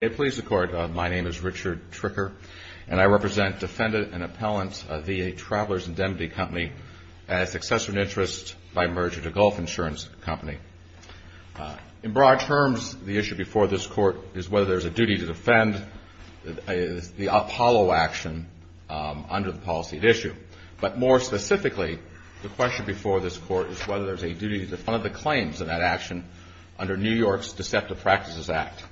It please the Court, my name is Richard Tricker, and I represent defendant and appellant of VA Travelers' Indemnity Company as successor in interest by merger to Gulf Insurance Company. In broad terms, the issue before this Court is whether there's a duty to defend the Apollo action under the policy at issue. But more specifically, the question before this Court is whether there's a duty to defend the claims in that action under New York's Deceptive Practices Act.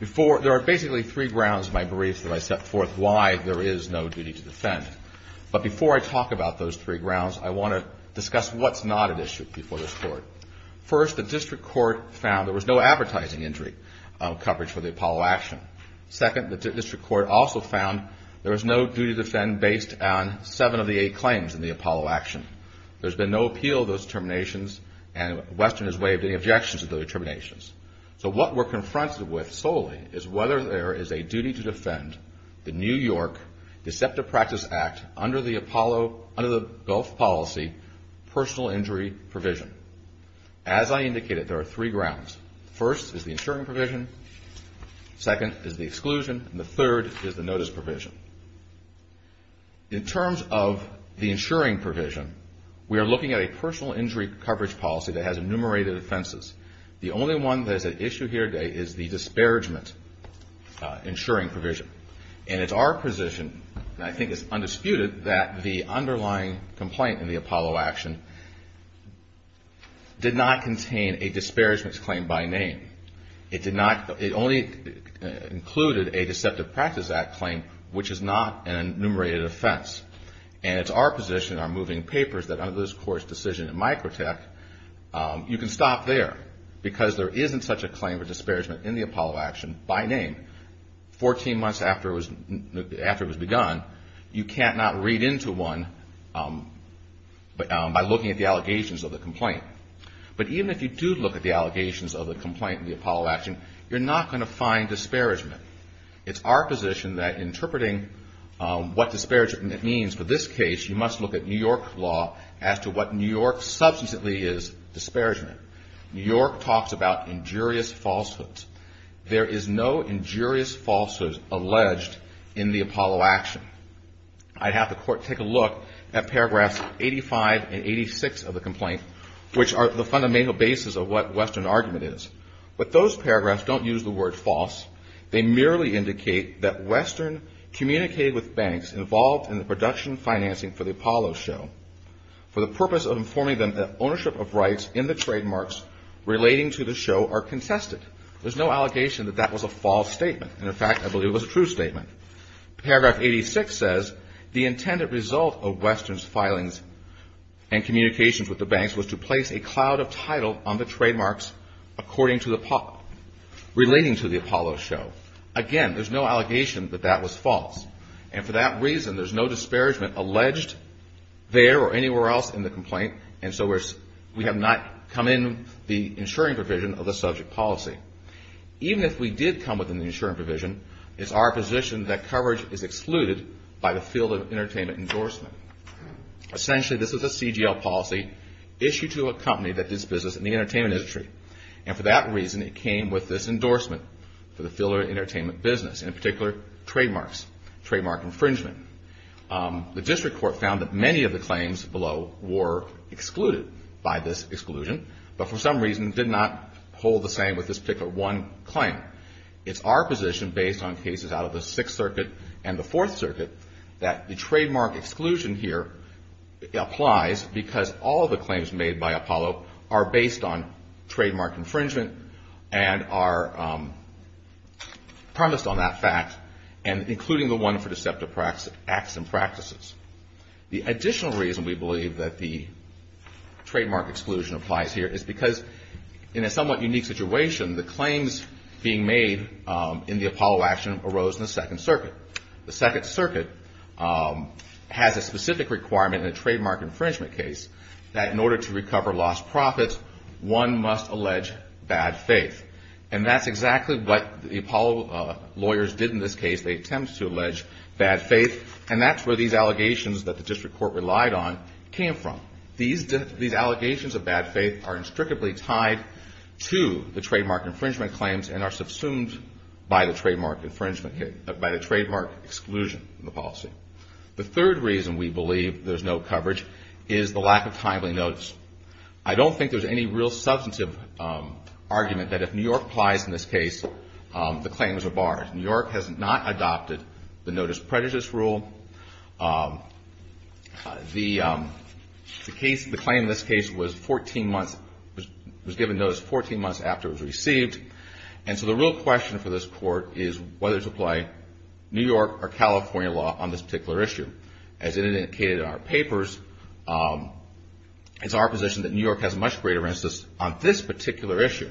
There are basically three grounds in my brief that I set forth why there is no duty to defend. But before I talk about those three grounds, I want to discuss what's not at issue before this Court. First, the District Court found there was no advertising injury coverage for the Apollo action. Second, the District Court also found there was no duty to defend based on seven of the eight claims in the Apollo action. There's been no appeal of those terminations, and WESTERN has waived any objections to those terminations. So what we're confronted with solely is whether there is a duty to defend the New York Deceptive Practices Act under the Gulf policy personal injury provision. As I indicated, there are three grounds. First is the insuring provision. Second is the exclusion. And the third is the notice provision. In terms of the insuring provision, we are looking at a personal injury coverage policy that has enumerated offenses. The only one that is at issue here today is the disparagement insuring provision. And it's our position, and I think it's undisputed, that the underlying complaint in the Apollo action did not contain a disparagement claim by name. It only included a Deceptive Practices Act claim, which is not an enumerated offense. And it's our position in our moving papers that under this Court's decision in Microtech, you can stop there because there isn't such a claim for disparagement in the Apollo action by name. Fourteen months after it was begun, you can't not read into one by looking at the allegations of the complaint. But even if you do look at the allegations of the complaint in the Apollo action, you're not going to find disparagement. It's our position that interpreting what disparagement means for this case, you must look at New York law as to what New York substantially is disparagement. New York talks about injurious falsehoods. There is no injurious falsehood alleged in the Apollo action. I'd have the Court take a look at paragraphs 85 and 86 of the complaint, which are the fundamental basis of what Western argument is. But those paragraphs don't use the word false. They merely indicate that Western communicated with banks involved in the production and financing for the Apollo show for the purpose of informing them that ownership of rights in the trademarks relating to the show are contested. There's no allegation that that was a false statement. And, in fact, I believe it was a true statement. Paragraph 86 says, the intended result of Western's filings and communications with the banks was to place a cloud of title on the trademarks according to the – relating to the Apollo show. Again, there's no allegation that that was false. And for that reason, there's no disparagement alleged there or anywhere else in the complaint. And so we have not come in the insuring provision of the subject policy. Even if we did come within the insuring provision, it's our position that coverage is excluded by the field of entertainment endorsement. Essentially, this is a CGL policy issued to a company that does business in the entertainment industry. And for that reason, it came with this endorsement for the field of entertainment business, in particular trademarks, trademark infringement. The district court found that many of the claims below were excluded by this exclusion, but for some reason did not hold the same with this particular one claim. It's our position, based on cases out of the Sixth Circuit and the Fourth Circuit, that the trademark exclusion here applies because all of the claims made by Apollo are based on trademark infringement and are premised on that fact, including the one for deceptive acts and practices. The additional reason we believe that the trademark exclusion applies here is because in a somewhat unique situation, the claims being made in the Apollo action arose in the Second Circuit. The Second Circuit has a specific requirement in a trademark infringement case that in order to recover lost profits, one must allege bad faith. And that's exactly what the Apollo lawyers did in this case. They attempted to allege bad faith, and that's where these allegations that the district court relied on came from. These allegations of bad faith are instructively tied to the trademark infringement claims and are subsumed by the trademark exclusion in the policy. The third reason we believe there's no coverage is the lack of timely notice. I don't think there's any real substantive argument that if New York applies in this case, the claims are barred. New York has not adopted the notice prejudice rule. The claim in this case was given notice 14 months after it was received, and so the real question for this court is whether to apply New York or California law on this particular issue. As it indicated in our papers, it's our position that New York has a much greater instance on this particular issue.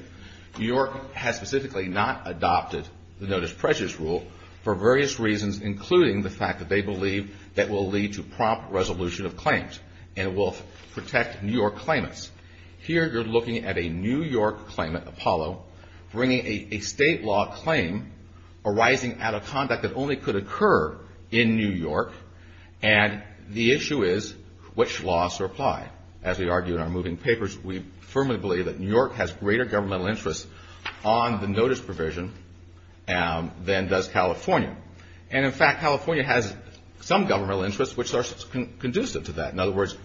New York has specifically not adopted the notice prejudice rule for various reasons, including the fact that they believe that will lead to prompt resolution of claims and will protect New York claimants. Here you're looking at a New York claimant, Apollo, bringing a state law claim arising out of conduct that only could occur in New York, and the issue is which laws are applied. As we argue in our moving papers, we firmly believe that New York has greater governmental interest on the notice provision than does California. And, in fact, California has some governmental interest which are conducive to that. In other words,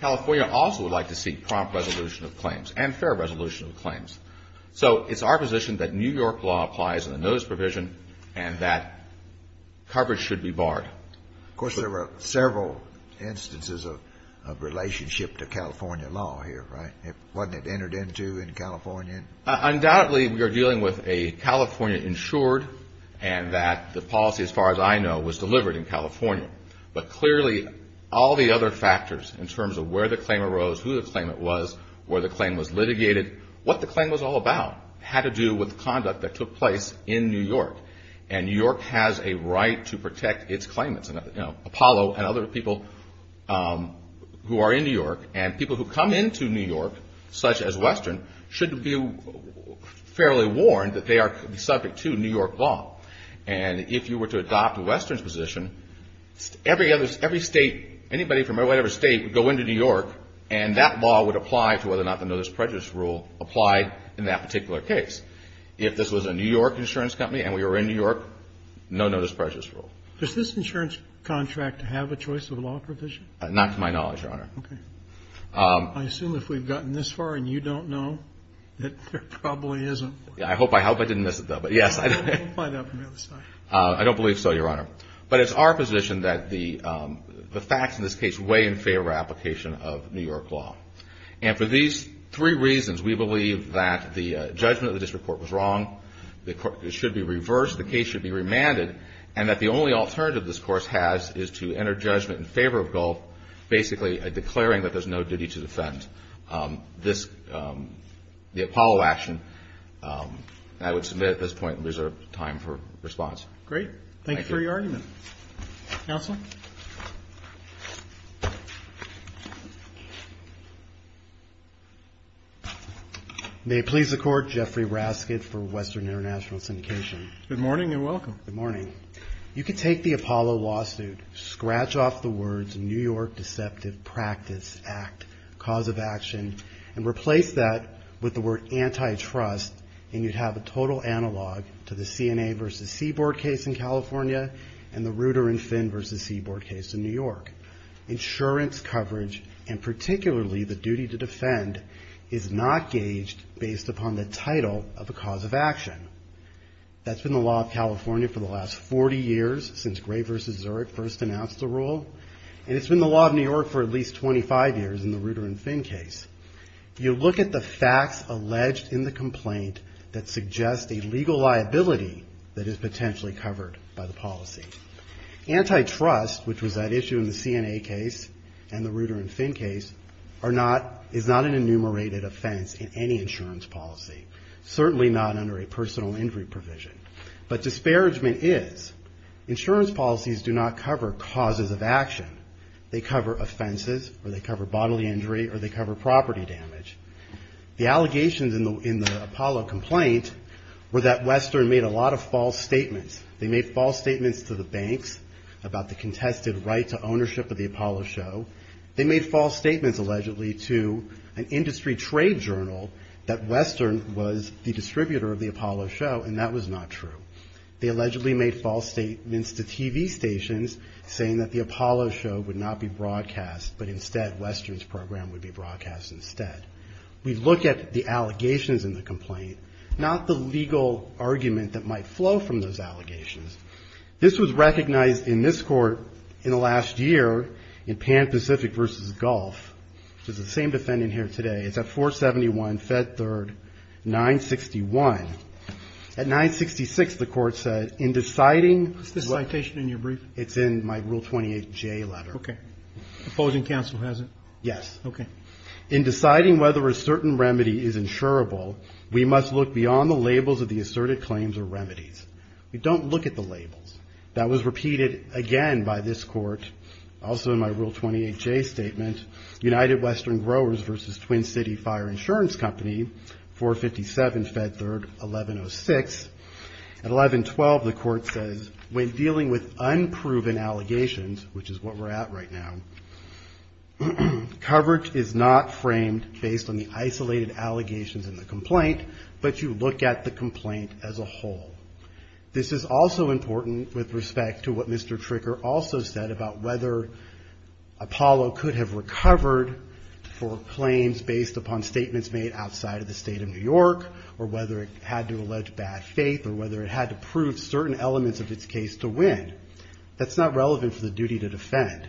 California also would like to seek prompt resolution of claims and fair resolution of claims. So it's our position that New York law applies in the notice provision and that coverage should be barred. Of course, there were several instances of relationship to California law here, right? Wasn't it entered into in California? Undoubtedly, we are dealing with a California-insured and that the policy, as far as I know, was delivered in California. But, clearly, all the other factors in terms of where the claim arose, who the claimant was, where the claim was litigated, what the claim was all about had to do with conduct that took place in New York. And New York has a right to protect its claimants. Apollo and other people who are in New York and people who come into New York, such as Western, should be fairly warned that they are subject to New York law. And if you were to adopt Western's position, every state, anybody from whatever state would go into New York and that law would apply to whether or not the notice prejudice rule applied in that particular case. If this was a New York insurance company and we were in New York, no notice prejudice rule. Does this insurance contract have a choice of law provision? Not to my knowledge, Your Honor. Okay. I assume if we've gotten this far and you don't know, that there probably isn't. I hope I didn't miss it, though. Yes. I don't believe so, Your Honor. But it's our position that the facts in this case weigh in favor of application of New York law. And for these three reasons, we believe that the judgment of the district court was wrong, it should be reversed, the case should be remanded, and that the only alternative this Course has is to enter judgment in favor of Gulf, basically declaring that there's no duty to defend. This, the Apollo action, I would submit at this point there's time for response. Great. Thank you. Thank you for your argument. Counsel? May it please the Court, Jeffrey Raskin for Western International Syndication. Good morning and welcome. Good morning. You can take the Apollo lawsuit, scratch off the words New York Deceptive Practice Act, cause of action, and replace that with the word antitrust, and you'd have a total analog to the CNA v. Seaboard case in California and the Reuter and Finn v. Seaboard case in New York. Insurance coverage, and particularly the duty to defend, is not gauged based upon the title of the cause of action. That's been the law of California for the last 40 years, since Gray v. Zurich first announced the rule. And it's been the law of New York for at least 25 years in the Reuter and Finn case. You look at the facts alleged in the complaint that suggest a legal liability that is potentially covered by the policy. Antitrust, which was at issue in the CNA case and the Reuter and Finn case, is not an enumerated offense in any insurance policy, certainly not under a personal injury provision. But disparagement is. Insurance policies do not cover causes of action. They cover offenses, or they cover bodily injury, or they cover property damage. The allegations in the Apollo complaint were that Western made a lot of false statements. They made false statements to the banks about the contested right to ownership of the Apollo show. They made false statements, allegedly, to an industry trade journal that Western was the distributor of the Apollo show, and that was not true. They allegedly made false statements to TV stations, saying that the Apollo show would not be broadcast, but instead Western's program would be broadcast instead. We look at the allegations in the complaint, not the legal argument that might flow from those allegations. This was recognized in this court in the last year, in Pan Pacific v. Golf, which is the same defendant here today. It's at 471 Fed Third 961. At 966, the court said, in deciding... Is this citation in your brief? It's in my Rule 28J letter. Okay. Opposing counsel has it? Yes. Okay. In deciding whether a certain remedy is insurable, we must look beyond the labels of the asserted claims or remedies. We don't look at the labels. That was repeated again by this court, also in my Rule 28J statement, United Western Growers v. Twin City Fire Insurance Company, 457 Fed Third 1106. At 1112, the court says, when dealing with unproven allegations, which is what we're at right now, coverage is not framed based on the isolated allegations in the complaint, but you look at the complaint as a whole. This is also important with respect to what Mr. Tricker also said about whether Apollo could have recovered for claims based upon statements made outside of the state of New York, or whether it had to allege bad faith, or whether it had to prove certain elements of its case to win. That's not relevant for the duty to defend.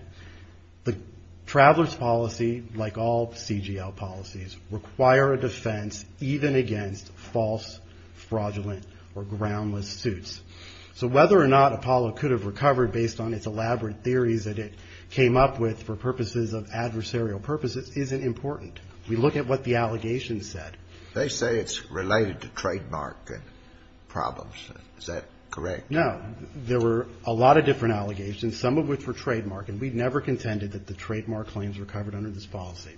The traveler's policy, like all CGL policies, require a defense even against false, fraudulent, or groundless suits. So whether or not Apollo could have recovered based on its elaborate theories that it came up with for purposes of adversarial purposes isn't important. We look at what the allegations said. They say it's related to trademark problems. Is that correct? No. There were a lot of different allegations, some of which were trademark, and we never contended that the trademark claims were covered under this policy.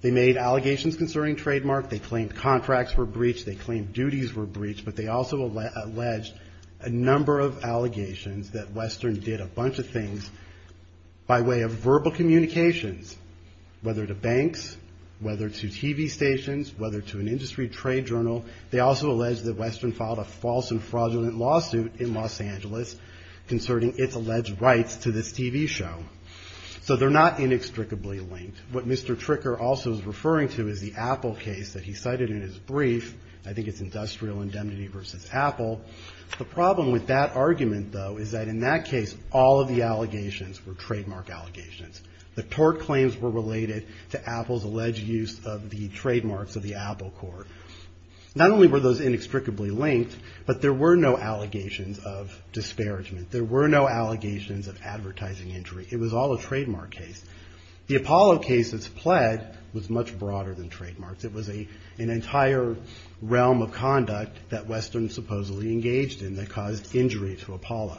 They made allegations concerning trademark. They claimed contracts were breached. They claimed duties were breached. But they also alleged a number of allegations that Western did a bunch of things by way of verbal communications, whether to banks, whether to TV stations, whether to an industry trade journal. They also alleged that Western filed a false and fraudulent lawsuit in Los Angeles concerning its alleged rights to this TV show. So they're not inextricably linked. What Mr. Tricker also is referring to is the Apple case that he cited in his brief. I think it's industrial indemnity versus Apple. The problem with that argument, though, is that in that case all of the allegations were trademark allegations. The tort claims were related to Apple's alleged use of the trademarks of the Apple Corp. Not only were those inextricably linked, but there were no allegations of disparagement. There were no allegations of advertising injury. It was all a trademark case. The Apollo case that's pled was much broader than trademarks. It was an entire realm of conduct that Western supposedly engaged in that caused injury to Apollo.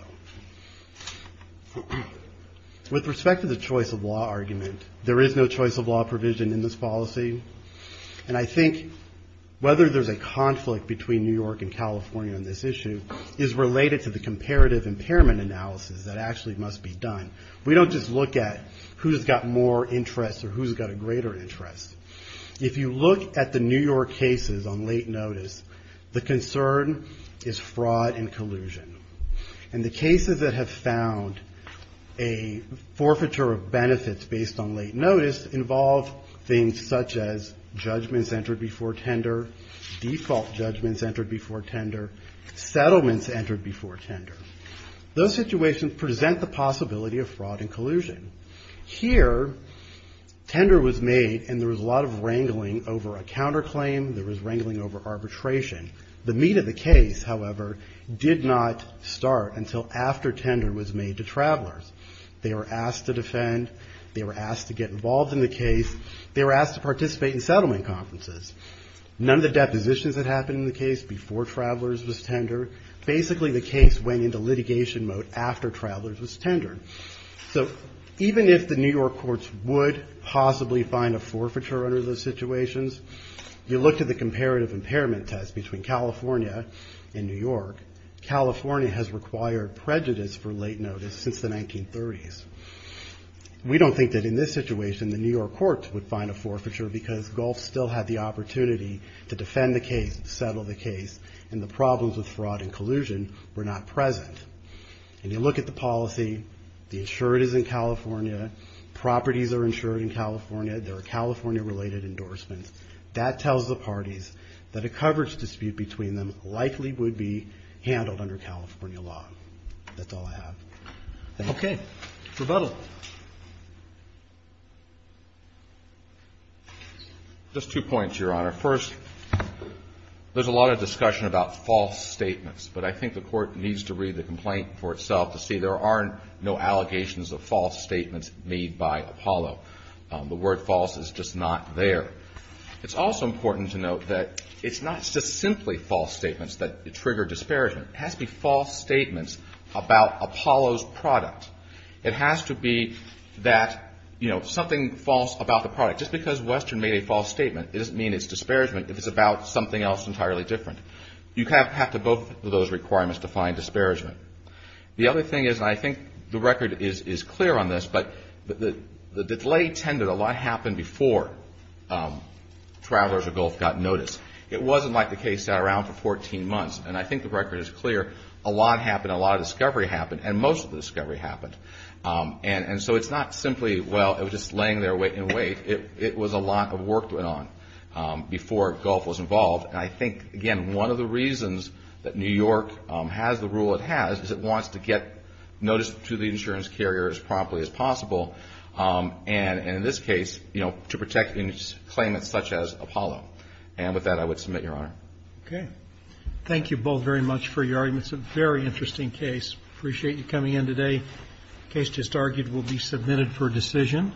With respect to the choice of law argument, there is no choice of law provision in this policy, and I think whether there's a conflict between New York and California on this issue is related to the comparative impairment analysis that actually must be done. We don't just look at who's got more interest or who's got a greater interest. If you look at the New York cases on late notice, the concern is fraud and collusion. And the cases that have found a forfeiture of benefits based on late notice involve things such as judgments entered before tender, default judgments entered before tender, settlements entered before tender. Those situations present the possibility of fraud and collusion. Here, tender was made and there was a lot of wrangling over a counterclaim. There was wrangling over arbitration. The meat of the case, however, did not start until after tender was made to travelers. They were asked to defend. They were asked to get involved in the case. They were asked to participate in settlement conferences. None of the depositions that happened in the case before travelers was tender. Basically the case went into litigation mode after travelers was tendered. So even if the New York courts would possibly find a forfeiture under those situations, you look to the comparative impairment test between California and New York, California has required prejudice for late notice since the 1930s. We don't think that in this situation the New York courts would find a forfeiture because Gulf still had the opportunity to defend the case, settle the case, and the problems with fraud and collusion were not present. And you look at the policy. The insurer is in California. Properties are insured in California. There are California-related endorsements. That tells the parties that a coverage dispute between them likely would be handled under California law. That's all I have. Okay. Rebuttal. Just two points, Your Honor. First, there's a lot of discussion about false statements, but I think the Court needs to read the complaint for itself to see there are no allegations of false statements made by Apollo. The word false is just not there. It's also important to note that it's not just simply false statements that trigger disparagement. It has to be false statements about Apollo's product. It has to be that, you know, something false about the product. Just because Western made a false statement, it doesn't mean it's disparagement if it's about something else entirely different. You kind of have to go through those requirements to find disparagement. The other thing is, and I think the record is clear on this, but the delay tended, a lot happened before Travelers of Gulf got notice. It wasn't like the case sat around for 14 months. And I think the record is clear. A lot happened. A lot of discovery happened. And most of the discovery happened. And so it's not simply, well, it was just laying there and wait. It was a lot of work that went on before Gulf was involved. And I think, again, one of the reasons that New York has the rule it has is it wants to get notice to the insurance carrier as promptly as possible. And in this case, you know, to protect claimants such as Apollo. And with that, I would submit, Your Honor. Okay. Thank you both very much for your arguments. A very interesting case. Appreciate you coming in today. The case just argued will be submitted for decision.